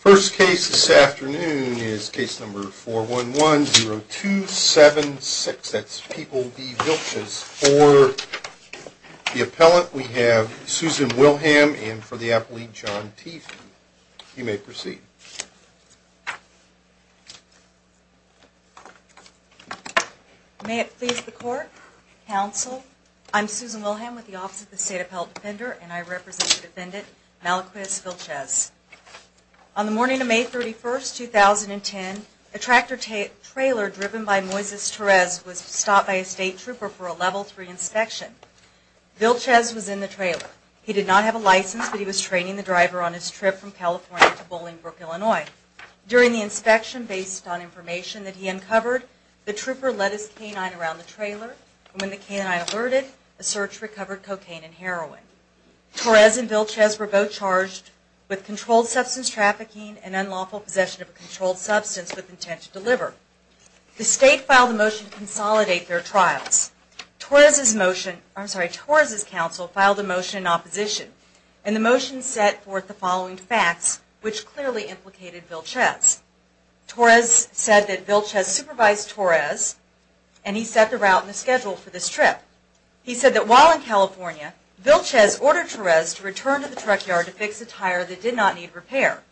First case this afternoon is case number 411-0276. That's People v. Vilchiz. For the appellant, we have Susan Wilhelm and for the appellee, John Tiefen. You may proceed. May it please the court, counsel, I'm Susan Wilhelm with the Office of the State Appellate Defender and I represent the defendant, Malacuis Vilchiz. On the morning of May 31, 2010, a tractor trailer driven by Moises Torres was stopped by a state trooper for a Level 3 inspection. Vilchiz was in the trailer. He did not have a license, but he was training the driver on his trip from California to Bolingbrook, Indiana. During the inspection, based on information that he uncovered, the trooper led his canine around the trailer and when the canine alerted, the search recovered cocaine and heroin. Torres and Vilchiz were both charged with controlled substance trafficking and unlawful possession of a controlled substance with intent to deliver. The state filed a motion to consolidate their trials. Torres' counsel filed a motion in opposition and the motion set forth the following facts, which clearly implicated Vilchiz. Torres said that Vilchiz supervised Torres and he set the route and schedule for this trip. He said that while in California, Vilchiz ordered Torres to return to the truck yard to fix a tire that did not need repair.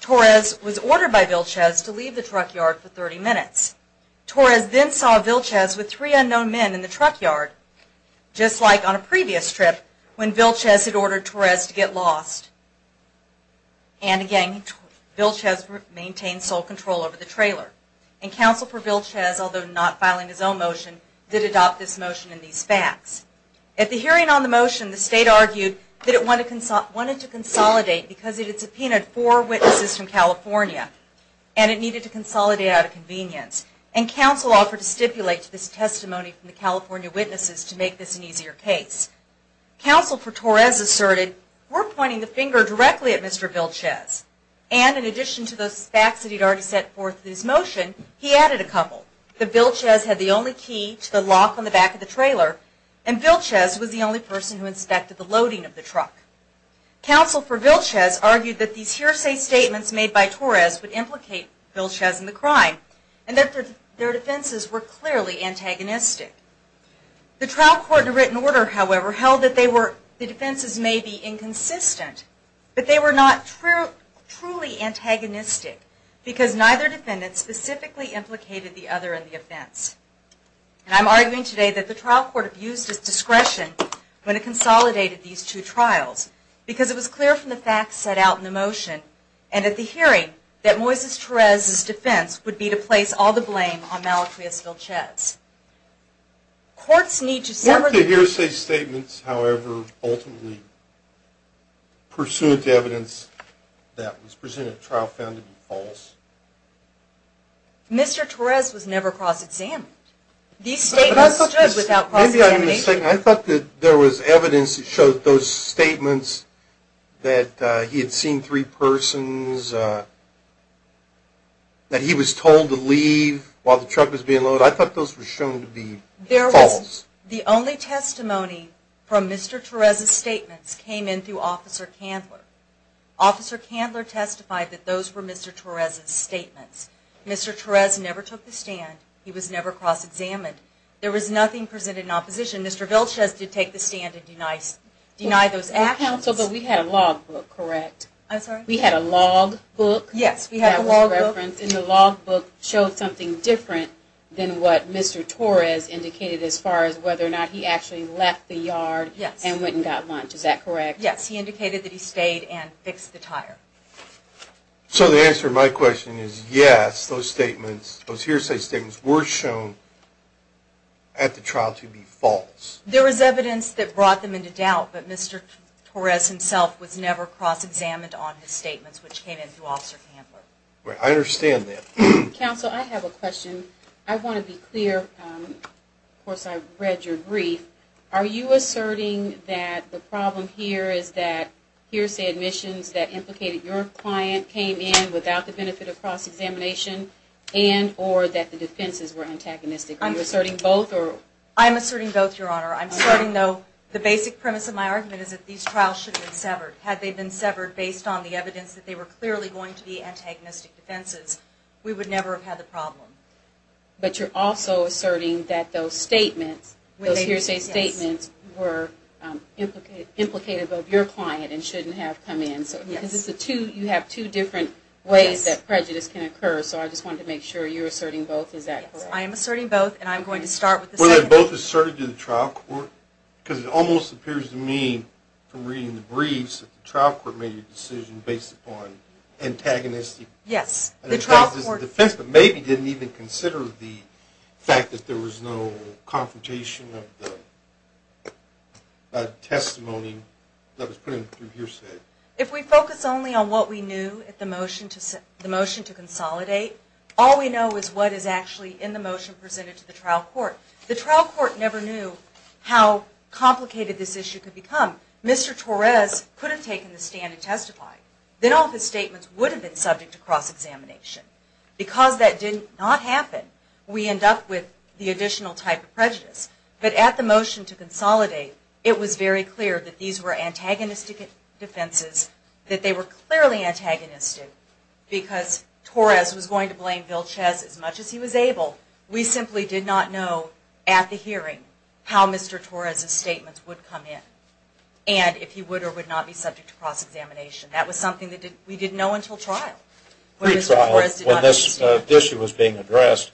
Torres was ordered by Vilchiz to leave the truck yard for 30 minutes. Torres then saw Vilchiz with three unknown men in the truck yard, just like on a previous trip when Vilchiz had ordered Torres to get lost. And again, Vilchiz maintained sole control over the trailer. And counsel for Vilchiz, although not filing his own motion, did adopt this motion and these facts. At the hearing on the motion, the state argued that it wanted to consolidate because it had subpoenaed four witnesses from California and it needed to consolidate out of convenience. And counsel offered to stipulate to this testimony from the California witnesses to make this an easier case. Counsel for Torres asserted, we're pointing the finger directly at Mr. Vilchiz. And in addition to those facts that he had already set forth in his motion, he added a couple. The Vilchiz had the only key to the lock on the back of the trailer and Vilchiz was the only person who inspected the loading of the truck. Counsel for Vilchiz argued that these hearsay statements made by Torres would implicate Vilchiz in the crime and that their defenses were clearly antagonistic. The trial court in written order, however, held that the defenses may be inconsistent, but they were not truly antagonistic because neither defendant specifically implicated the other in the offense. And I'm arguing today that the trial court abused its discretion when it consolidated these two trials because it was clear from the facts set out in the motion and at the hearing that Moises Torres' defense would be to place all the blame on Malachius Vilchiz. What if the hearsay statements, however, ultimately, pursuant to evidence that was presented at trial, found to be false? Mr. Torres was never cross-examined. I thought that there was evidence that showed those statements that he had seen three persons, that he was told to leave while the truck was being loaded. I thought those were shown to be false. The only testimony from Mr. Torres' statements came in through Officer Candler. Officer Candler testified that those were Mr. Torres' statements. Mr. Torres never took the stand. He was never cross-examined. There was nothing presented in opposition. Mr. Vilchiz did take the stand and deny those actions. We had a logbook, correct? I'm sorry? We had a logbook. Yes, we had a logbook. And the logbook showed something different than what Mr. Torres indicated as far as whether or not he actually left the yard and went and got lunch. Is that correct? Yes, he indicated that he stayed and fixed the tire. So the answer to my question is yes, those statements, those hearsay statements were shown at the trial to be false. There was evidence that brought them into doubt, but Mr. Torres himself was never cross-examined on his statements, which came in through Officer Candler. I understand that. Counsel, I have a question. I want to be clear. Of course, I read your brief. Are you asserting that the problem here is that hearsay admissions that implicated your client came in without the benefit of cross-examination and or that the defenses were antagonistic? Are you asserting both? I'm asserting both, Your Honor. I'm asserting, though, the basic premise of my argument is that these trials should have been severed. Had they been severed based on the evidence that they were clearly going to be antagonistic defenses, we would never have had the problem. But you're also asserting that those statements, those hearsay statements, were implicated of your client and shouldn't have come in. Yes. Because you have two different ways that prejudice can occur, so I just wanted to make sure you're asserting both. Is that correct? I am asserting both, and I'm going to start with the second one. Were they both asserted to the trial court? Because it almost appears to me from reading the briefs that the trial court made a decision based upon antagonistic defenses, but maybe didn't even consider the fact that there was no confrontation of the testimony that was put in through hearsay. If we focus only on what we knew at the motion to consolidate, all we know is what is actually in the motion presented to the trial court. The trial court never knew how complicated this issue could become. Mr. Torres could have taken the stand and testified. Then all of his statements would have been subject to cross-examination. Because that did not happen, we end up with the additional type of prejudice. But at the motion to consolidate, it was very clear that these were antagonistic defenses, that they were clearly antagonistic, because Torres was going to blame Vilches as much as he was able. We simply did not know at the hearing how Mr. Torres' statements would come in, and if he would or would not be subject to cross-examination. That was something that we didn't know until trial. When this issue was being addressed,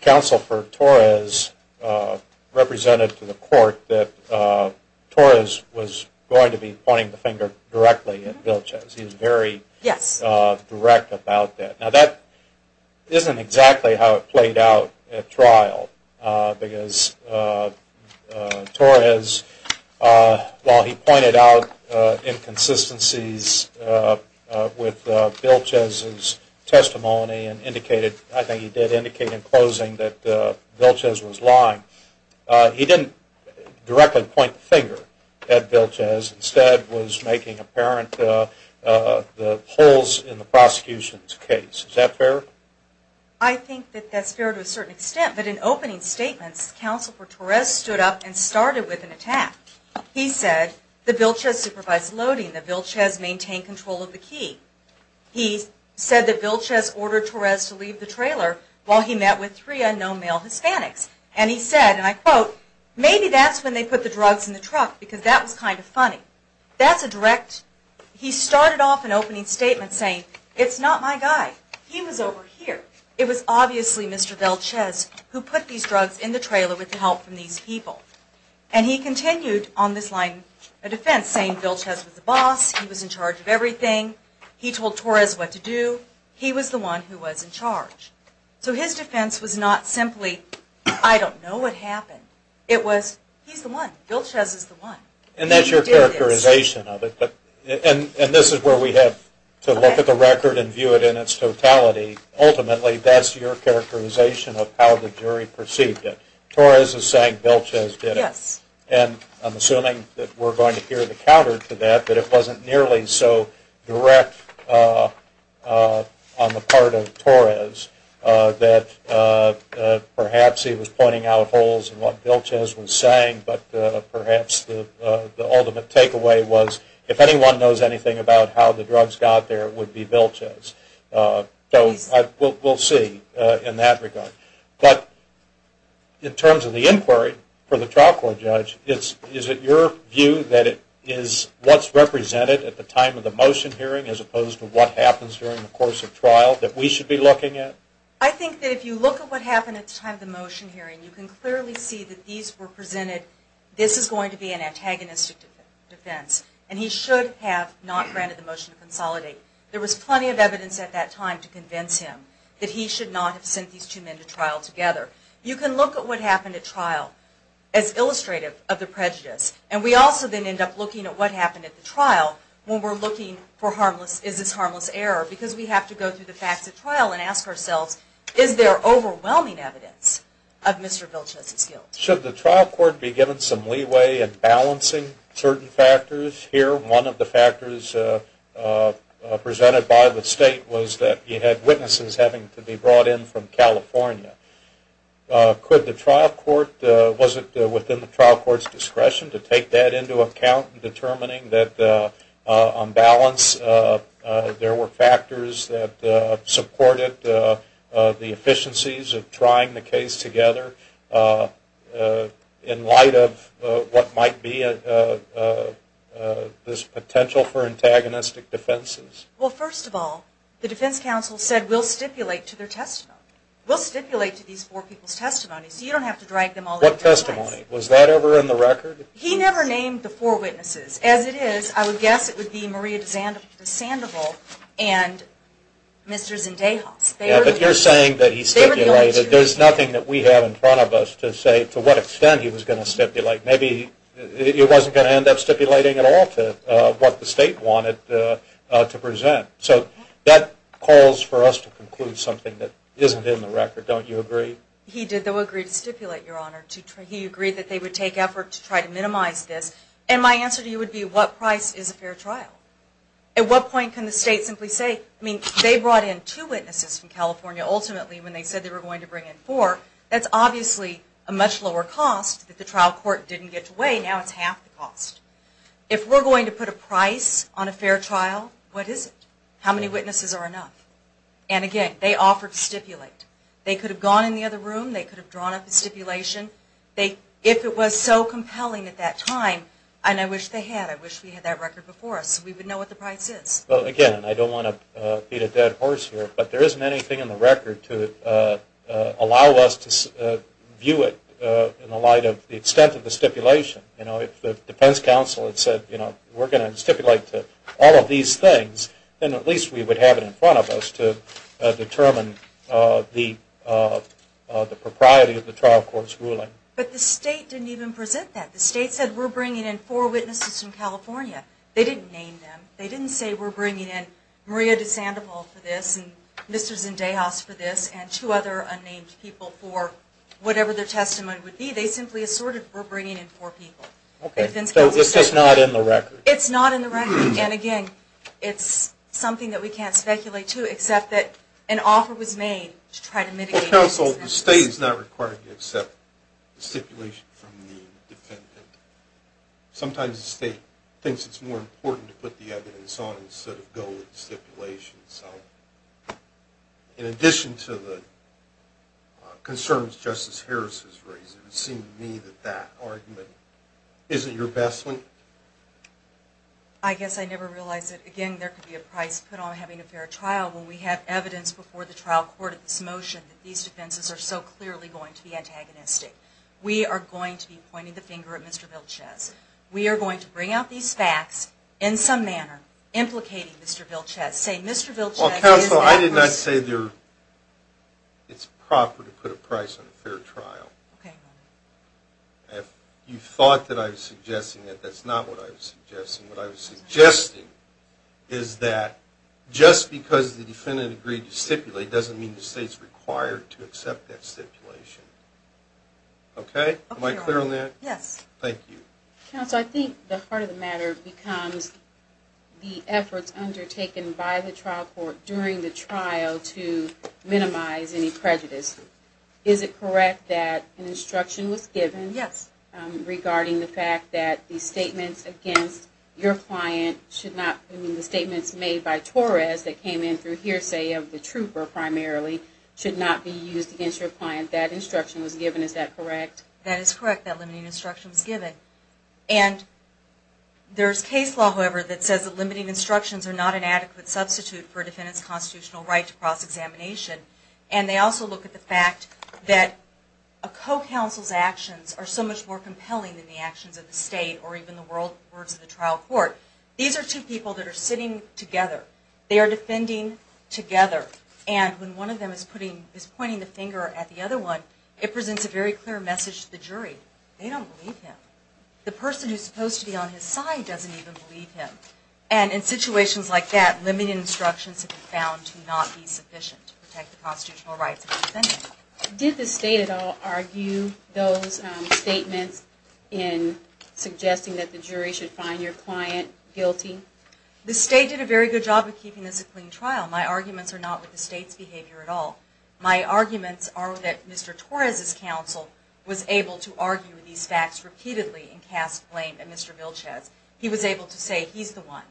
counsel for Torres represented to the court that Torres was going to be pointing the finger directly at Vilches. He was very direct about that. Now that isn't exactly how it played out at trial, because Torres, while he pointed out inconsistencies with Vilches' testimony, and I think he did indicate in closing that Vilches was lying, he didn't directly point the finger at Vilches. I think that's fair to a certain extent, but in opening statements, counsel for Torres stood up and started with an attack. He said that Vilches supervised loading, that Vilches maintained control of the key. He said that Vilches ordered Torres to leave the trailer while he met with three unknown male Hispanics, and he said, and I quote, maybe that's when they put the drugs in the truck, because that was kind of funny. That's a direct, he started off an opening statement saying, it's not my guy. He was over here. It was obviously Mr. Vilches who put these drugs in the trailer with the help from these people. And he continued on this line of defense saying Vilches was the boss, he was in charge of everything, he told Torres what to do, he was the one who was in charge. So his defense was not simply, I don't know what happened. It was, he's the one. Vilches is the one. And that's your characterization of it. And this is where we have to look at the record and view it in its totality. Ultimately, that's your characterization of how the jury perceived it. Torres is saying Vilches did it. And I'm assuming that we're going to hear the counter to that, but it wasn't nearly so direct on the part of Torres that perhaps he was pointing out holes in what Vilches was saying, but perhaps the ultimate takeaway was, if anyone knows anything about how the drugs got there, it would be Vilches. So we'll see in that regard. But in terms of the inquiry for the trial court judge, is it your view that it is what's represented at the time of the motion hearing as opposed to what happens during the course of trial that we should be looking at? I think that if you look at what happened at the time of the motion hearing, you can clearly see that these were presented, this is going to be an antagonistic defense, and he should have not granted the motion to consolidate. There was plenty of evidence at that time to convince him that he should not have sent these two men to trial together. You can look at what happened at trial as illustrative of the prejudice. And we also then end up looking at what happened at the trial when we're looking for harmless, is this harmless error, because we have to go through the facts of trial and ask ourselves, is there overwhelming evidence of Mr. Vilches' guilt? Should the trial court be given some leeway in balancing certain factors? Here, one of the factors presented by the state was that you had witnesses having to be brought in from California. Could the trial court, was it within the trial court's discretion to take that into account in determining that, on balance, there were factors that supported the efficiencies of trying the case together? In light of what might be this potential for antagonistic defenses? Well, first of all, the defense counsel said, we'll stipulate to their testimony. We'll stipulate to these four people's testimonies, so you don't have to drag them all into this. What testimony? Was that ever in the record? He never named the four witnesses. As it is, I would guess it would be Maria DeSandoval and Mr. Zendejas. Yeah, but you're saying that he stipulated. There's nothing that we have in front of us to say to what extent he was going to stipulate. Maybe he wasn't going to end up stipulating at all to what the state wanted to present. So that calls for us to conclude something that isn't in the record. Don't you agree? He did, though, agree to stipulate, Your Honor. He agreed that they would take effort to try to minimize this. And my answer to you would be, what price is a fair trial? At what point can the state simply say, I mean, they brought in two witnesses from California ultimately when they said they were going to bring in four. That's obviously a much lower cost that the trial court didn't get to weigh. Now it's half the cost. If we're going to put a price on a fair trial, what is it? How many witnesses are enough? And again, they offered to stipulate. They could have gone in the other room. They could have drawn up a stipulation. If it was so compelling at that time, and I wish they had, I wish we had that record before us so we would know what the price is. Well, again, I don't want to beat a dead horse here, but there isn't anything in the record to allow us to view it in the light of the extent of the stipulation. If the defense counsel had said, we're going to stipulate to all of these things, then at least we would have it in front of us to determine the propriety of the trial court's ruling. But the state didn't even present that. The state said, we're bringing in four witnesses from California. They didn't name them. They didn't say, we're bringing in Maria DeSandoval for this and Mr. Zendejas for this and two other unnamed people for whatever their testimony would be. They simply assorted, we're bringing in four people. Okay, so it's just not in the record. It's not in the record, and again, it's something that we can't speculate to except that an offer was made to try to mitigate this. Well, counsel, the state is not required to accept the stipulation from the defendant. Sometimes the state thinks it's more important to put the evidence on instead of go with the stipulation. In addition to the concerns Justice Harris has raised, it would seem to me that that argument isn't your best one. I guess I never realized that, again, there could be a price put on having a fair trial. When we have evidence before the trial court of this motion, these defenses are so clearly going to be antagonistic. We are going to be pointing the finger at Mr. Vilches. We are going to bring out these facts in some manner, implicating Mr. Vilches. Counsel, I did not say it's proper to put a price on a fair trial. If you thought that I was suggesting it, that's not what I was suggesting. What I was suggesting is that just because the defendant agreed to stipulate doesn't mean the state is required to accept that stipulation. Okay? Am I clear on that? Yes. Thank you. Counsel, I think the heart of the matter becomes the efforts undertaken by the trial court during the trial to minimize any prejudice. Is it correct that an instruction was given regarding the fact that the statements made by Torres that came in through hearsay of the trooper primarily should not be used against your client? That instruction was given, is that correct? That is correct, that limiting instruction was given. And there is case law, however, that says that limiting instructions are not an adequate substitute for a defendant's constitutional right to cross-examination. And they also look at the fact that a co-counsel's actions are so much more compelling than the actions of the state or even the words of the trial court. These are two people that are sitting together. They are defending together. And when one of them is pointing the finger at the other one, it presents a very clear message to the jury. They don't believe him. The person who is supposed to be on his side doesn't even believe him. And in situations like that, limiting instructions have been found to not be sufficient to protect the constitutional rights of the defendant. Did the state at all argue those statements in suggesting that the jury should find your client guilty? The state did a very good job of keeping this a clean trial. My arguments are not with the state's behavior at all. My arguments are that Mr. Torres' counsel was able to argue these facts repeatedly and cast blame at Mr. Vilches. He was able to say he's the one.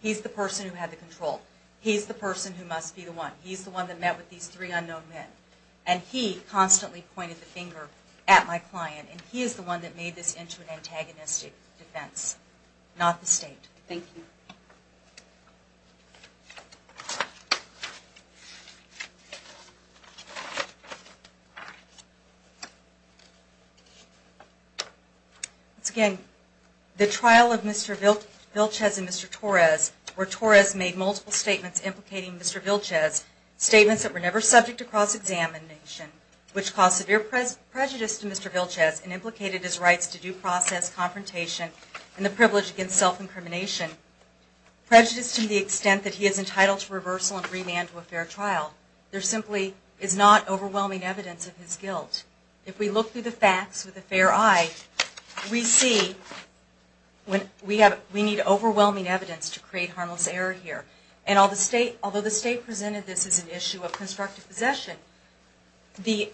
He's the person who had the control. He's the person who must be the one. He's the one that met with these three unknown men. And he constantly pointed the finger at my client. And he is the one that made this into an antagonistic defense, not the state. Thank you. Once again, the trial of Mr. Vilches and Mr. Torres, where Torres made multiple statements implicating Mr. Vilches, statements that were never subject to cross-examination, which caused severe prejudice to Mr. Vilches and implicated his rights to due process, confrontation, and the privilege against self-incrimination. Prejudice to the extent that he is entitled to reversal and remand to a fair trial. There simply is not overwhelming evidence of his guilt. If we look through the facts with a fair eye, we see we need overwhelming evidence to create harmless error here. And although the state presented this as an issue of constructive possession, the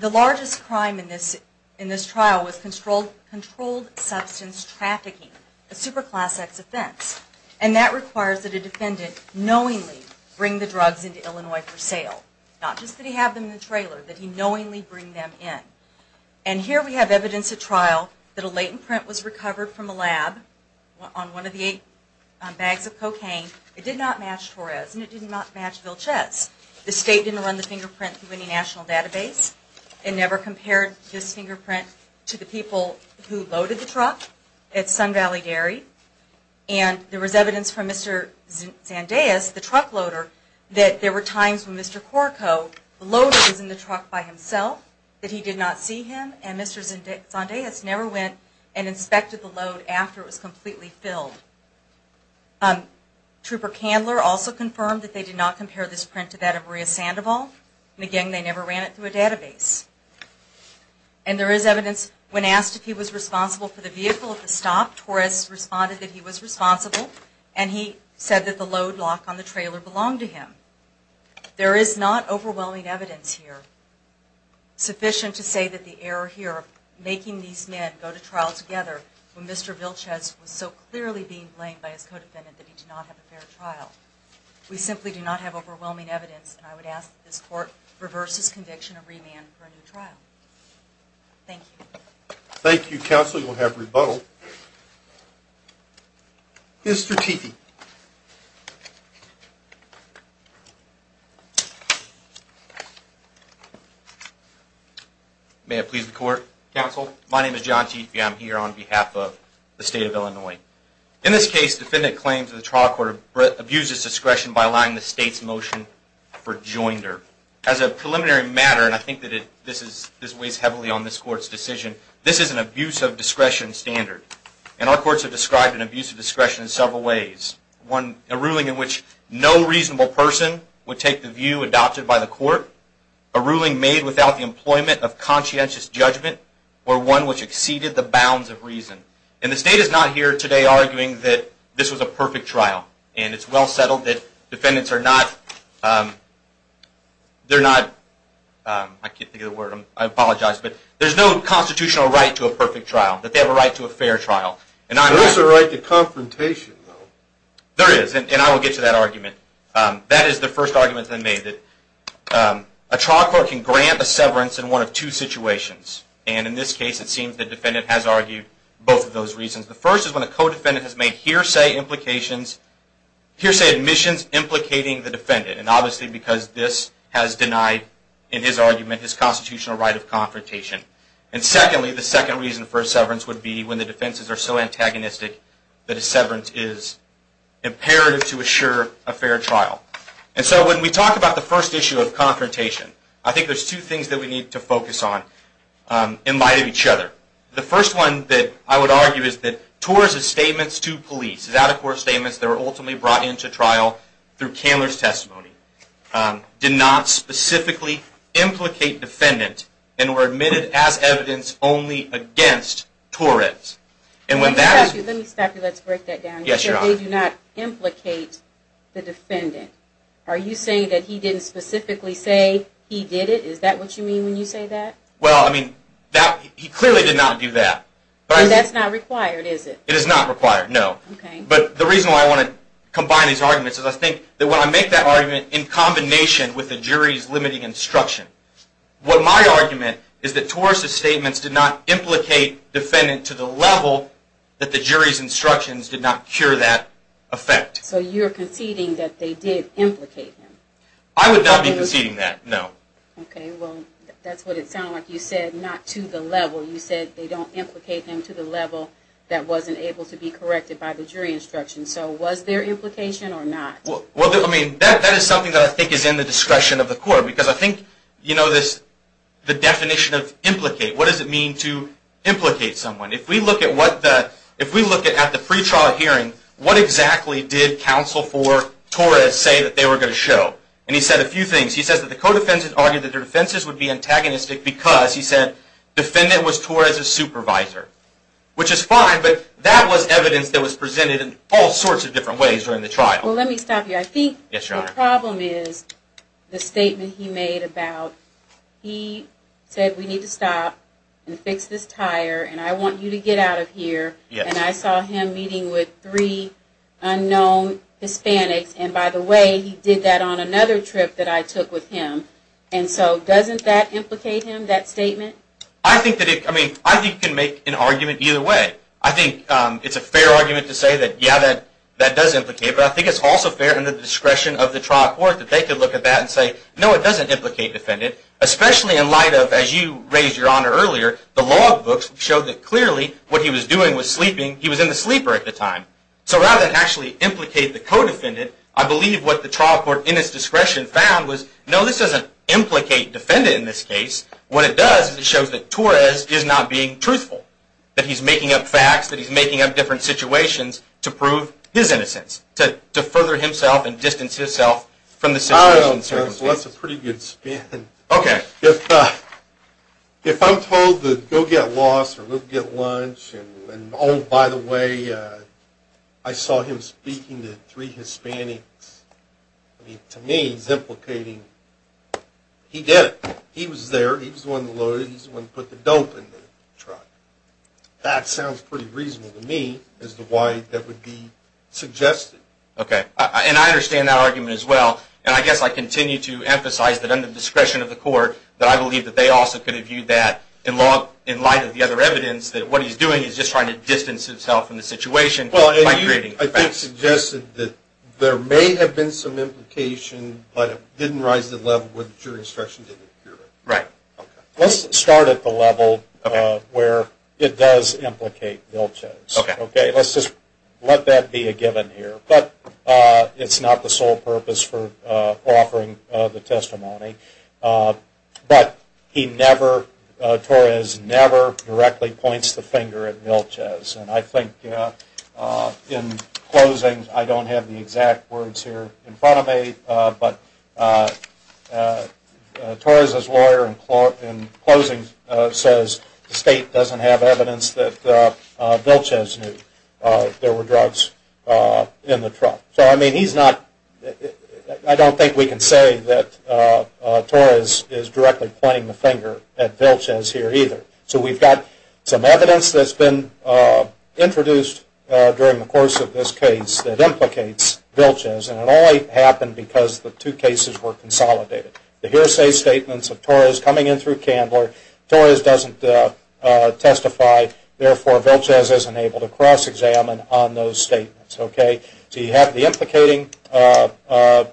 largest crime in this trial was controlled substance trafficking, a superclass X offense. And that requires that a defendant knowingly bring the drugs into Illinois for sale. Not just that he have them in the trailer, that he knowingly bring them in. And here we have evidence at trial that a latent print was recovered from a lab on one of the eight bags of cocaine. It did not match Torres, and it did not match Vilches. The state didn't run the fingerprint through any national database. It never compared this fingerprint to the people who loaded the truck at Sun Valley Dairy. And there was evidence from Mr. Zandez, the truck loader, that there were times when Mr. Corco, the loader was in the truck by himself, that he did not see him, and Mr. Zandez never went and inspected the load after it was completely filled. Trooper Candler also confirmed that they did not compare this print to that of Maria Sandoval. And again, they never ran it through a database. And there is evidence when asked if he was responsible for the vehicle at the stop, Torres responded that he was responsible, and he said that the load lock on the trailer belonged to him. There is not overwhelming evidence here sufficient to say that the error here of making these men go to trial together when Mr. Vilches was so clearly being blamed by his co-defendant that he did not have a fair trial. We simply do not have overwhelming evidence, and I would ask that this court reverse his conviction and remand for a new trial. Thank you. Thank you, counsel. You will have rebuttal. Mr. Teefee. May it please the court, counsel. My name is John Teefee. I am here on behalf of the state of Illinois. In this case, defendant claims that the trial court abused its discretion by allowing the state's motion for joinder. As a preliminary matter, and I think that this weighs heavily on this court's decision, this is an abuse of discretion standard, and our courts have described an abuse of discretion in several ways. A ruling in which no reasonable person would take the view adopted by the court, a ruling made without the employment of conscientious judgment, or one which exceeded the bounds of reason. And the state is not here today arguing that this was a perfect trial, and it is well settled that defendants are not, I can't think of the word, I apologize, but there's no constitutional right to a perfect trial, that they have a right to a fair trial. There is a right to confrontation, though. There is, and I will get to that argument. That is the first argument that I made, that a trial court can grant a severance in one of two situations. And in this case, it seems the defendant has argued both of those reasons. The first is when a co-defendant has made hearsay implications, hearsay admissions implicating the defendant. And obviously because this has denied, in his argument, his constitutional right of confrontation. And secondly, the second reason for a severance would be when the defenses are so antagonistic that a severance is imperative to assure a fair trial. And so when we talk about the first issue of confrontation, I think there's two things that we need to focus on in light of each other. The first one that I would argue is that TOR's statements to police, his out-of-court statements that were ultimately brought into trial through Candler's testimony, did not specifically implicate defendant and were admitted as evidence only against Torres. Let me stop you. Let's break that down. Yes, Your Honor. They do not implicate the defendant. Are you saying that he didn't specifically say he did it? Is that what you mean when you say that? Well, I mean, he clearly did not do that. That's not required, is it? It is not required, no. Okay. But the reason why I want to combine these arguments is I think that when I make that argument in combination with the jury's limiting instruction, what my argument is that Torres' statements did not implicate defendant to the level that the jury's instructions did not cure that effect. So you're conceding that they did implicate him? I would not be conceding that, no. Okay, well, that's what it sounded like. You said not to the level. You said they don't implicate him to the level that wasn't able to be corrected by the jury instructions. So was there implication or not? Well, I mean, that is something that I think is in the discretion of the court because I think, you know, the definition of implicate, what does it mean to implicate someone? If we look at the pretrial hearing, what exactly did counsel for Torres say that they were going to show? And he said a few things. He says that the co-defendants argued that their defenses would be antagonistic because, he said, defendant was Torres' supervisor, which is fine, but that was evidence that was presented in all sorts of different ways during the trial. Well, let me stop you. I think the problem is the statement he made about he said we need to stop and fix this tire and I want you to get out of here. And I saw him meeting with three unknown Hispanics. And by the way, he did that on another trip that I took with him. And so doesn't that implicate him, that statement? I think it can make an argument either way. I think it's a fair argument to say that, yeah, that does implicate. But I think it's also fair in the discretion of the trial court that they could look at that and say, no, it doesn't implicate defendant, especially in light of, as you raised your honor earlier, the law books showed that clearly what he was doing was sleeping. He was in the sleeper at the time. So rather than actually implicate the co-defendant, I believe what the trial court in its discretion found was, no, this doesn't implicate defendant in this case. What it does is it shows that Torres is not being truthful, that he's making up facts, that he's making up different situations to prove his innocence, to further himself and distance himself from the situation. Well, that's a pretty good spin. Okay. If I'm told to go get lost or go get lunch and, oh, by the way, I saw him speaking to three Hispanics, I mean, to me he's implicating he did it. He was there. He was the one who loaded it. He was the one who put the dope in the truck. That sounds pretty reasonable to me as to why that would be suggested. Okay. And I understand that argument as well. And I guess I continue to emphasize that under the discretion of the court, that I believe that they also could have viewed that in light of the other evidence, that what he's doing is just trying to distance himself from the situation by creating facts. Well, and you, I think, suggested that there may have been some implication, but it didn't rise to the level where the jury instruction didn't appear. Right. Okay. Let's start at the level where it does implicate Vilchow. Okay. Okay. Let's just let that be a given here. But it's not the sole purpose for offering the testimony. But he never, Torres never directly points the finger at Vilchow. And I think in closing, I don't have the exact words here in front of me, but Torres' lawyer in closing says the state doesn't have evidence that Vilchow knew there were drugs in the truck. So, I mean, he's not, I don't think we can say that Torres is directly pointing the finger at Vilchow here either. So we've got some evidence that's been introduced during the course of this case that implicates Vilchow, and it only happened because the two cases were consolidated. The hearsay statements of Torres coming in through Candler, Torres doesn't testify, therefore Vilchow isn't able to cross-examine on those statements. Okay. So you have the implicating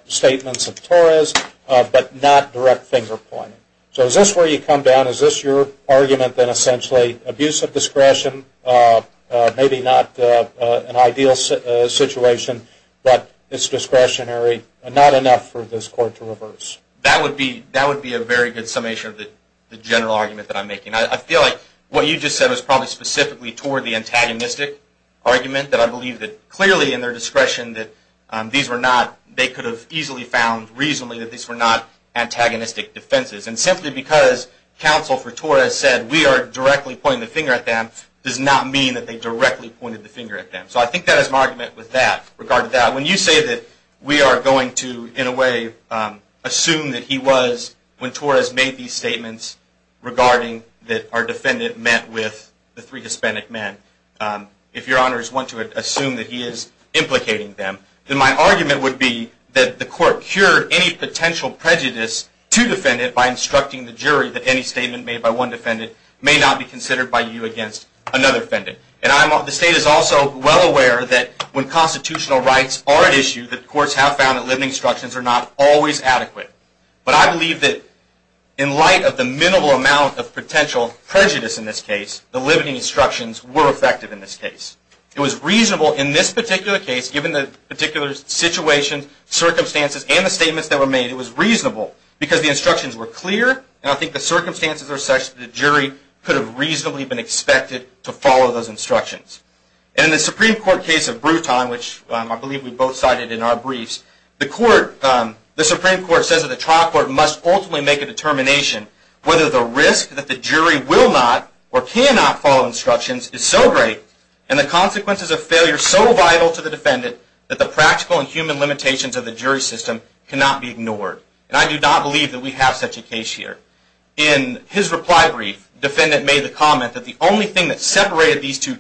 statements of Torres, but not direct finger pointing. So is this where you come down? Is this your argument that essentially abuse of discretion may be not an ideal situation, but it's discretionary and not enough for this court to reverse? That would be a very good summation of the general argument that I'm making. I feel like what you just said was probably specifically toward the antagonistic argument, that I believe that clearly in their discretion that these were not, they could have easily found reasonably that these were not antagonistic defenses. And simply because counsel for Torres said, we are directly pointing the finger at them, does not mean that they directly pointed the finger at them. So I think that is my argument with that, regard to that. When you say that we are going to, in a way, assume that he was, when Torres made these statements, regarding that our defendant met with the three Hispanic men. If your honors want to assume that he is implicating them, then my argument would be that the court cured any potential prejudice to defendant by instructing the jury that any statement made by one defendant may not be considered by you against another defendant. And the state is also well aware that when constitutional rights are at issue, the courts have found that limiting instructions are not always adequate. But I believe that in light of the minimal amount of potential prejudice in this case, the limiting instructions were effective in this case. It was reasonable in this particular case, given the particular situation, circumstances, and the statements that were made, it was reasonable because the instructions were clear, and I think the circumstances are such that the jury could have reasonably been expected to follow those instructions. And in the Supreme Court case of Bruton, which I believe we both cited in our briefs, the Supreme Court says that the trial court must ultimately make a determination whether the risk that the jury will not or cannot follow instructions is so great, and the consequences of failure so vital to the defendant, that the practical and human limitations of the jury system cannot be ignored. And I do not believe that we have such a case here. In his reply brief, the defendant made the comment that the only thing that separated these two defendants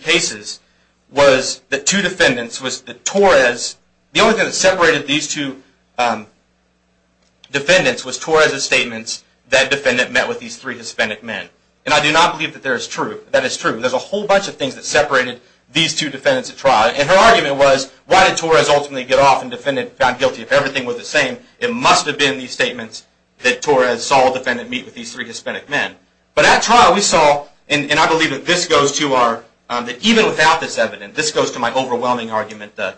was Torres' statements that the defendant met with these three Hispanic men. And I do not believe that that is true. There's a whole bunch of things that separated these two defendants at trial, and her argument was, why did Torres ultimately get off, and the defendant found guilty if everything was the same? It must have been these statements that Torres saw the defendant meet with these three Hispanic men. But at trial, we saw, and I believe that this goes to our, that even without this evidence, this goes to my overwhelming argument, that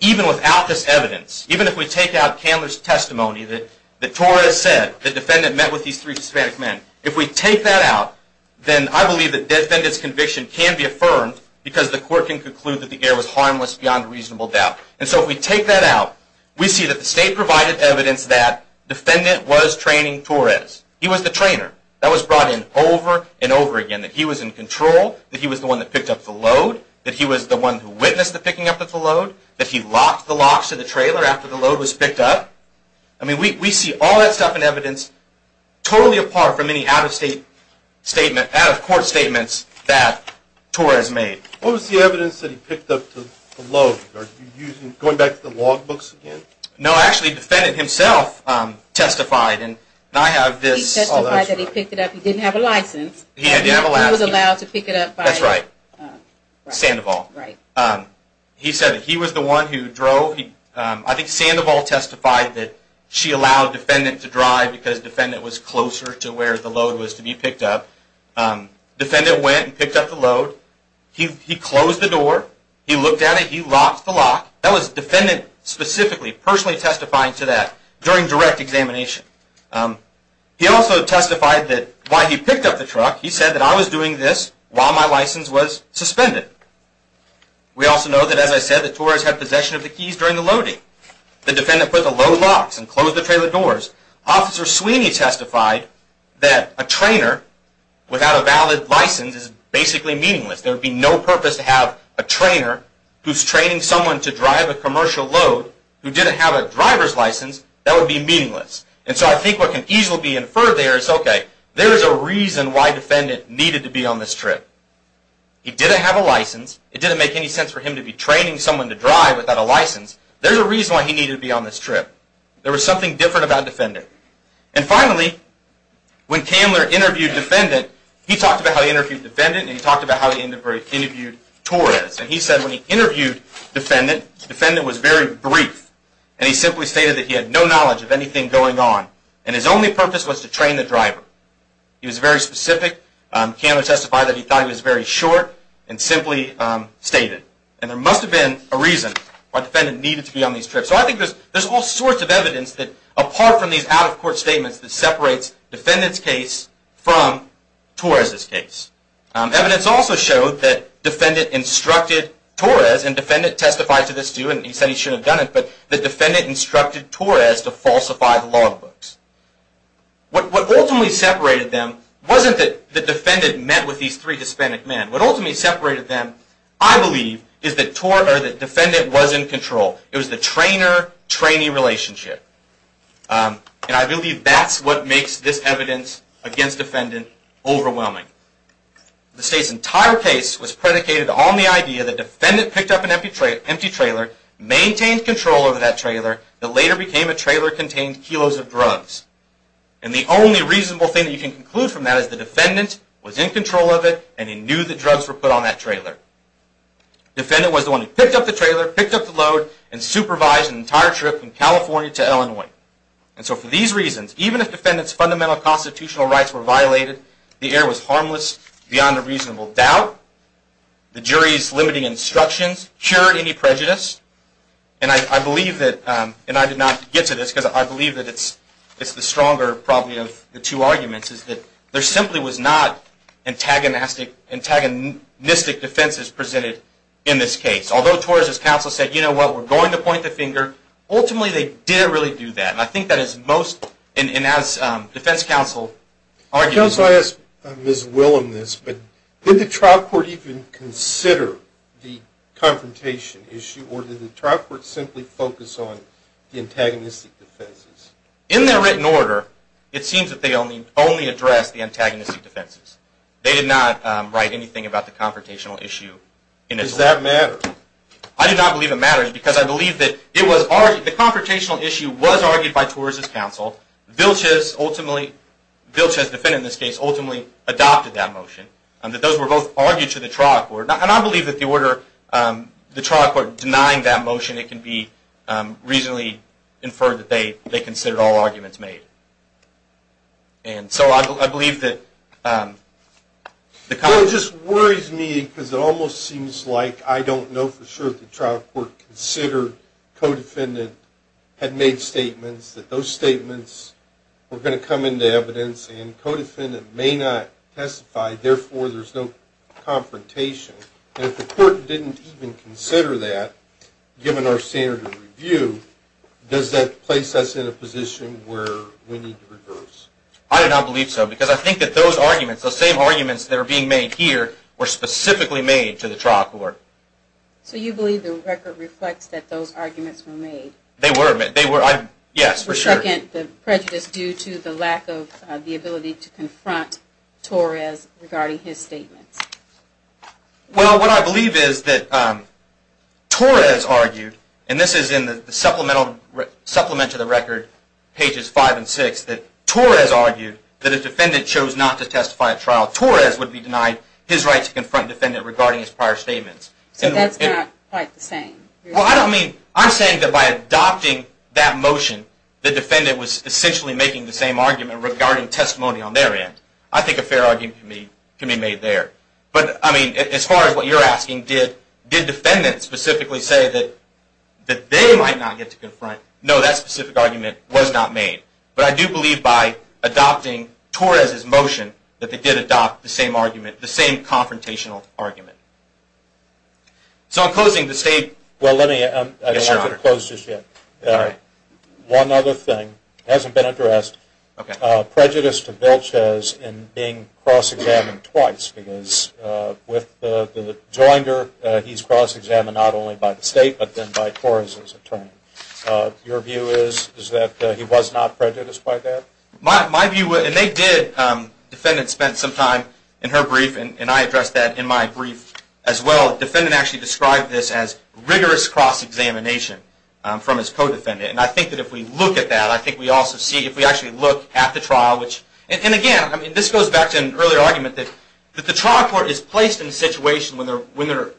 even without this evidence, even if we take out Candler's testimony that Torres said the defendant met with these three Hispanic men, if we take that out, then I believe the defendant's conviction can be affirmed because the court can conclude that the error was harmless beyond reasonable doubt. And so if we take that out, we see that the state provided evidence that the defendant was training Torres. He was the trainer. That was brought in over and over again, that he was in control, that he was the one that picked up the load, that he was the one who witnessed the picking up of the load, that he locked the locks to the trailer after the load was picked up. I mean, we see all that stuff in evidence totally apart from any out-of-state statement, out-of-court statements that Torres made. What was the evidence that he picked up the load? Are you going back to the log books again? No, actually, the defendant himself testified, and I have this. He testified that he picked it up. He didn't have a license. He didn't have a license. He was allowed to pick it up by... That's right. Sandoval. Right. He said that he was the one who drove. I think Sandoval testified that she allowed the defendant to drive because the defendant was closer to where the load was to be picked up. The defendant went and picked up the load. He closed the door. He looked at it. He locked the lock. That was the defendant specifically personally testifying to that during direct examination. He also testified that while he picked up the truck, he said that I was doing this while my license was suspended. We also know that, as I said, that Torres had possession of the keys during the loading. The defendant put the load locks and closed the trailer doors. Officer Sweeney testified that a trainer without a valid license is basically meaningless. There would be no purpose to have a trainer who's training someone to drive a commercial load who didn't have a driver's license. That would be meaningless. And so I think what can easily be inferred there is, okay, there is a reason why the defendant needed to be on this trip. He didn't have a license. It didn't make any sense for him to be training someone to drive without a license. There's a reason why he needed to be on this trip. And finally, when Candler interviewed the defendant, he talked about how he interviewed the defendant and he talked about how he interviewed Torres. And he said when he interviewed the defendant, the defendant was very brief and he simply stated that he had no knowledge of anything going on and his only purpose was to train the driver. He was very specific. Candler testified that he thought he was very short and simply stated. And there must have been a reason why the defendant needed to be on these trips. So I think there's all sorts of evidence that, apart from these out-of-court statements, that separates the defendant's case from Torres' case. Evidence also showed that the defendant instructed Torres, and the defendant testified to this too, and he said he shouldn't have done it, but the defendant instructed Torres to falsify the law books. What ultimately separated them wasn't that the defendant met with these three Hispanic men. What ultimately separated them, I believe, is that the defendant was in control. It was the trainer-trainee relationship. And I believe that's what makes this evidence against defendant overwhelming. The state's entire case was predicated on the idea that the defendant picked up an empty trailer, maintained control over that trailer, that later became a trailer contained kilos of drugs. And the only reasonable thing that you can conclude from that is the defendant was in control of it and he knew that drugs were put on that trailer. The defendant was the one who picked up the trailer, picked up the load, and supervised an entire trip from California to Illinois. And so for these reasons, even if the defendant's fundamental constitutional rights were violated, the error was harmless beyond a reasonable doubt. The jury's limiting instructions cured any prejudice. And I believe that, and I did not get to this, because I believe that it's the stronger, probably, of the two arguments, is that there simply was not antagonistic defenses presented in this case. Although Torres' counsel said, you know what, we're going to point the finger, ultimately they didn't really do that. And I think that is most, and as defense counsel argued... I guess I'll ask Ms. Willum this, but did the trial court even consider the confrontation issue, or did the trial court simply focus on the antagonistic defenses? In their written order, it seems that they only addressed the antagonistic defenses. They did not write anything about the confrontational issue. Does that matter? I do not believe it matters, because I believe that it was argued, the confrontational issue was argued by Torres' counsel. Vilches ultimately, Vilches' defendant in this case, ultimately adopted that motion. And that those were both argued to the trial court. And I believe that the order, the trial court denying that motion, it can be reasonably inferred that they considered all arguments made. And so I believe that... Well, it just worries me, because it almost seems like I don't know for sure if the trial court considered co-defendant had made statements, that those statements were going to come into evidence, and co-defendant may not testify, therefore there's no confrontation. And if the court didn't even consider that, given our standard of review, does that place us in a position where we need to reverse? I do not believe so, because I think that those arguments, those same arguments that are being made here, were specifically made to the trial court. So you believe the record reflects that those arguments were made? They were, yes, for sure. And again, the prejudice due to the lack of the ability to confront Torres regarding his statements. Well, what I believe is that Torres argued, and this is in the supplement to the record, pages 5 and 6, that Torres argued that if defendant chose not to testify at trial, Torres would be denied his right to confront defendant regarding his prior statements. So that's not quite the same? Well, I don't mean, I'm saying that by adopting that motion, the defendant was essentially making the same argument regarding testimony on their end. I think a fair argument can be made there. But, I mean, as far as what you're asking, did defendant specifically say that they might not get to confront? No, that specific argument was not made. But I do believe by adopting Torres' motion, that they did adopt the same argument, the same confrontational argument. So, in closing, the State... Well, let me... Yes, Your Honor. I don't have it closed just yet. One other thing, it hasn't been addressed, prejudice to Vilches in being cross-examined twice, because with the joinder, he's cross-examined not only by the State, but then by Torres' attorney. Your view is that he was not prejudiced by that? My view, and they did, defendant spent some time in her brief, and I addressed that in my brief as well, defendant actually described this as rigorous cross-examination from his co-defendant. And I think that if we look at that, I think we also see, if we actually look at the trial, which... And again, this goes back to an earlier argument, that the trial court is placed in a situation when they're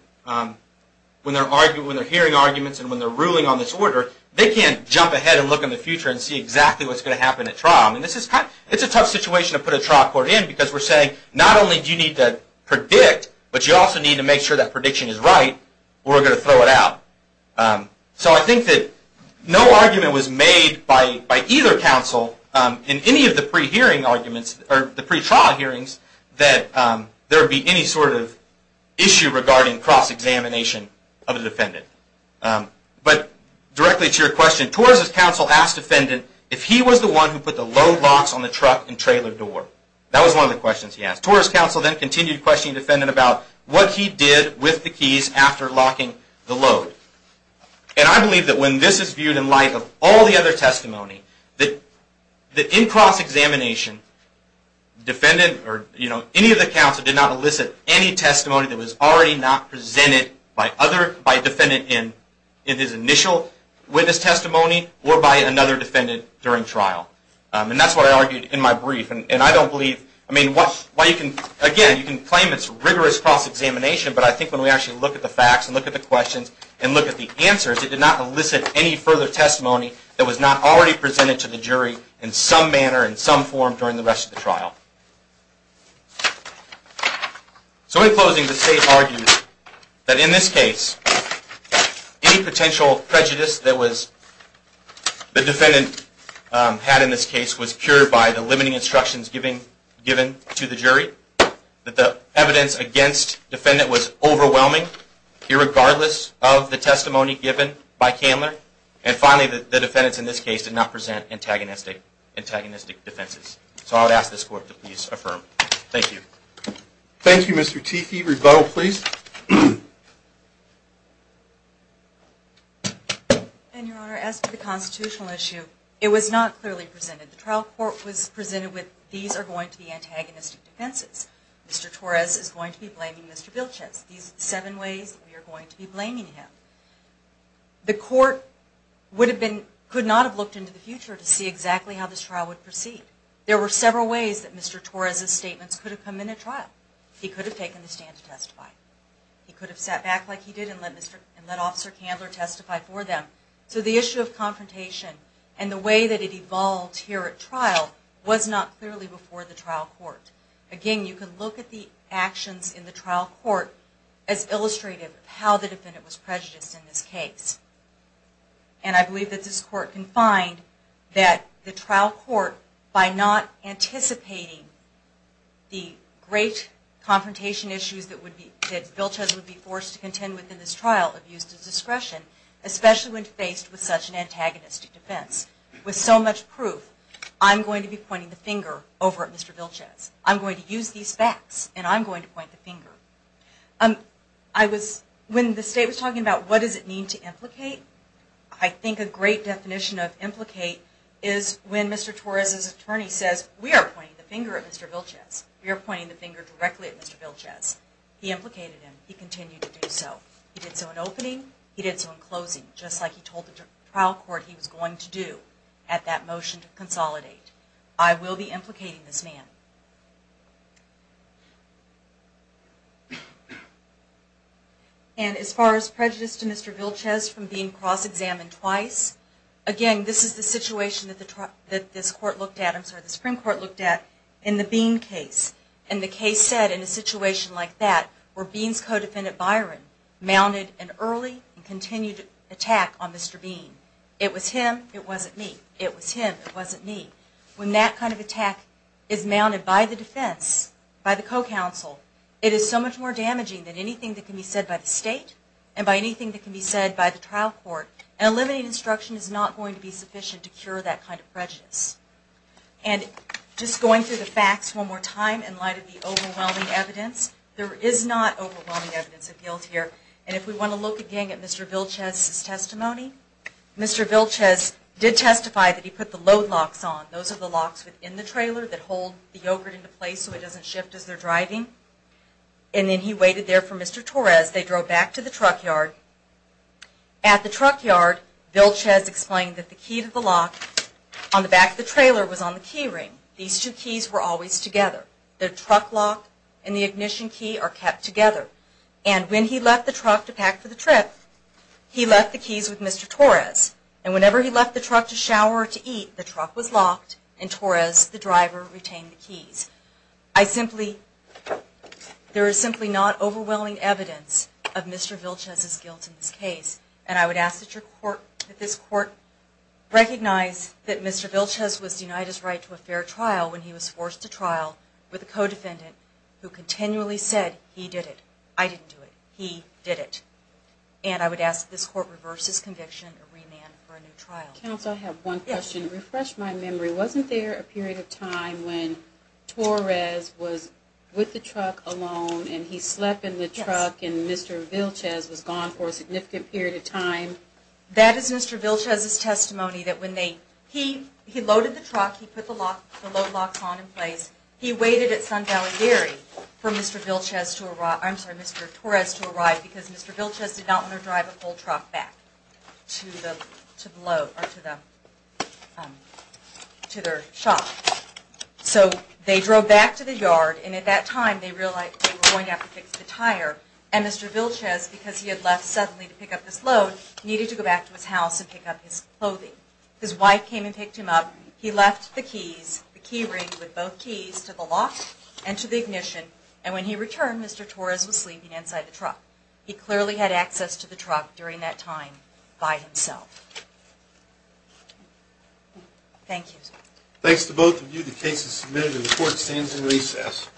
hearing arguments and when they're ruling on this order, they can't jump ahead and look in the future and see exactly what's going to happen at trial. I mean, it's a tough situation to put a trial court in, because we're saying, not only do you need to predict, but you also need to make sure that prediction is right, or we're going to throw it out. So I think that no argument was made by either counsel, in any of the pre-trial hearings, that there would be any sort of issue regarding cross-examination of the defendant. But directly to your question, Torres' counsel asked defendant if he was the one who put the load locks on the truck and trailer door. That was one of the questions he asked. Torres' counsel then continued questioning the defendant about what he did with the keys after locking the load. And I believe that when this is viewed in light of all the other testimony, that in cross-examination, defendant or any of the counsel did not elicit any testimony that was already not presented by defendant in his initial witness testimony or by another defendant during trial. And that's what I argued in my brief. Again, you can claim it's rigorous cross-examination, but I think when we actually look at the facts and look at the questions and look at the answers, it did not elicit any further testimony that was not already presented to the jury in some manner, in some form, during the rest of the trial. So in closing, the state argued that in this case, any potential prejudice that the defendant had in this case was cured by the limiting instructions given to the jury. That the evidence against defendant was overwhelming, irregardless of the testimony given by Candler. And finally, the defendants in this case did not present antagonistic defenses. So I would ask this court to please affirm. Thank you. Rebuttal, please. Your Honor, as to the constitutional issue, it was not clearly presented. The trial court was presented with, these are going to be antagonistic defenses. Mr. Torres is going to be blaming Mr. Vilches. These seven ways we are going to be blaming him. The court could not have looked into the future to see exactly how this trial would proceed. There were several ways that Mr. Torres' statements could have come in at trial. He could have taken the stand to testify. He could have sat back like he did and let Officer Candler testify for them. So the issue of confrontation and the way that it evolved here at trial was not clearly before the trial court. Again, you can look at the actions in the trial court as illustrative of how the defendant was prejudiced in this case. And I believe that this court can find that the trial court, by not anticipating the great confrontation issues that Vilches would be forced to contend with in this trial abused his discretion, especially when faced with such an antagonistic defense. With so much proof, I'm going to be pointing the finger over at Mr. Vilches. I'm going to use these facts and I'm going to point the finger. When the State was talking about what does it mean to implicate, I think a great definition of implicate is when Mr. Torres' attorney says, we are pointing the finger at Mr. Vilches. We are pointing the finger directly at Mr. Vilches. He implicated him. He continued to do so. He did so in opening. He did so in closing. Just like he told the trial court he was going to do at that motion to consolidate. I will be implicating this man. And as far as prejudice to Mr. Vilches from being cross-examined twice, again, this is the situation that this court looked at or the Supreme Court looked at in the Bean case. And the case said in a situation like that, where Bean's co-defendant Byron mounted an early and continued attack on Mr. Bean. It was him. It wasn't me. It was him. It wasn't me. When that kind of attack is mounted by the defense, by the co-counsel, it is so much more damaging than anything that can be said by the State and by anything that can be said by the trial court. And eliminating instruction is not going to be sufficient to cure that kind of prejudice. And just going through the facts one more time in light of the overwhelming evidence, there is not overwhelming evidence of guilt here. And if we want to look again at Mr. Vilches' testimony, Mr. Vilches did testify that he put the load locks on. Those are the locks within the trailer that hold the yogurt into place so it doesn't shift as they're driving. And then he waited there for Mr. Torres. They drove back to the truck yard. At the truck yard, Mr. Vilches explained that the key to the lock on the back of the trailer was on the key ring. These two keys were always together. The truck lock and the ignition key are kept together. And when he left the truck to pack for the trip, he left the keys with Mr. Torres. And whenever he left the truck to shower or to eat, the truck was locked and Torres, the driver, retained the keys. I simply... There is simply not overwhelming evidence of Mr. Vilches' guilt in this case. And I would ask that this court recognize that Mr. Vilches was denied his right to a fair trial when he was forced to trial with a co-defendant who continually said, he did it. I didn't do it. He did it. And I would ask that this court reverse his conviction and remand for a new trial. Counsel, I have one question. Refresh my memory. Wasn't there a period of time when Torres was with the truck alone and he slept in the truck and Mr. Vilches was gone for a significant period of time? That is Mr. Vilches' testimony that when they... He loaded the truck. He put the load locks on in place. He waited at Sun Valley Dairy for Mr. Vilches to arrive... I'm sorry, Mr. Torres to arrive because Mr. Vilches did not want to drive a full truck back to the load... or to the... to their shop. So they drove back to the yard and at that time they realized they were going to have to fix the tire and Mr. Vilches, because he had left suddenly to pick up this load, needed to go back to his house and pick up his clothing. His wife came and picked him up. He left the keys, the key ring with both keys to the lock and to the ignition and when he returned, Mr. Torres was sleeping inside the truck. He clearly had access to the truck during that time by himself. Thank you. Thanks to both of you, the case is submitted and the court stands in recess.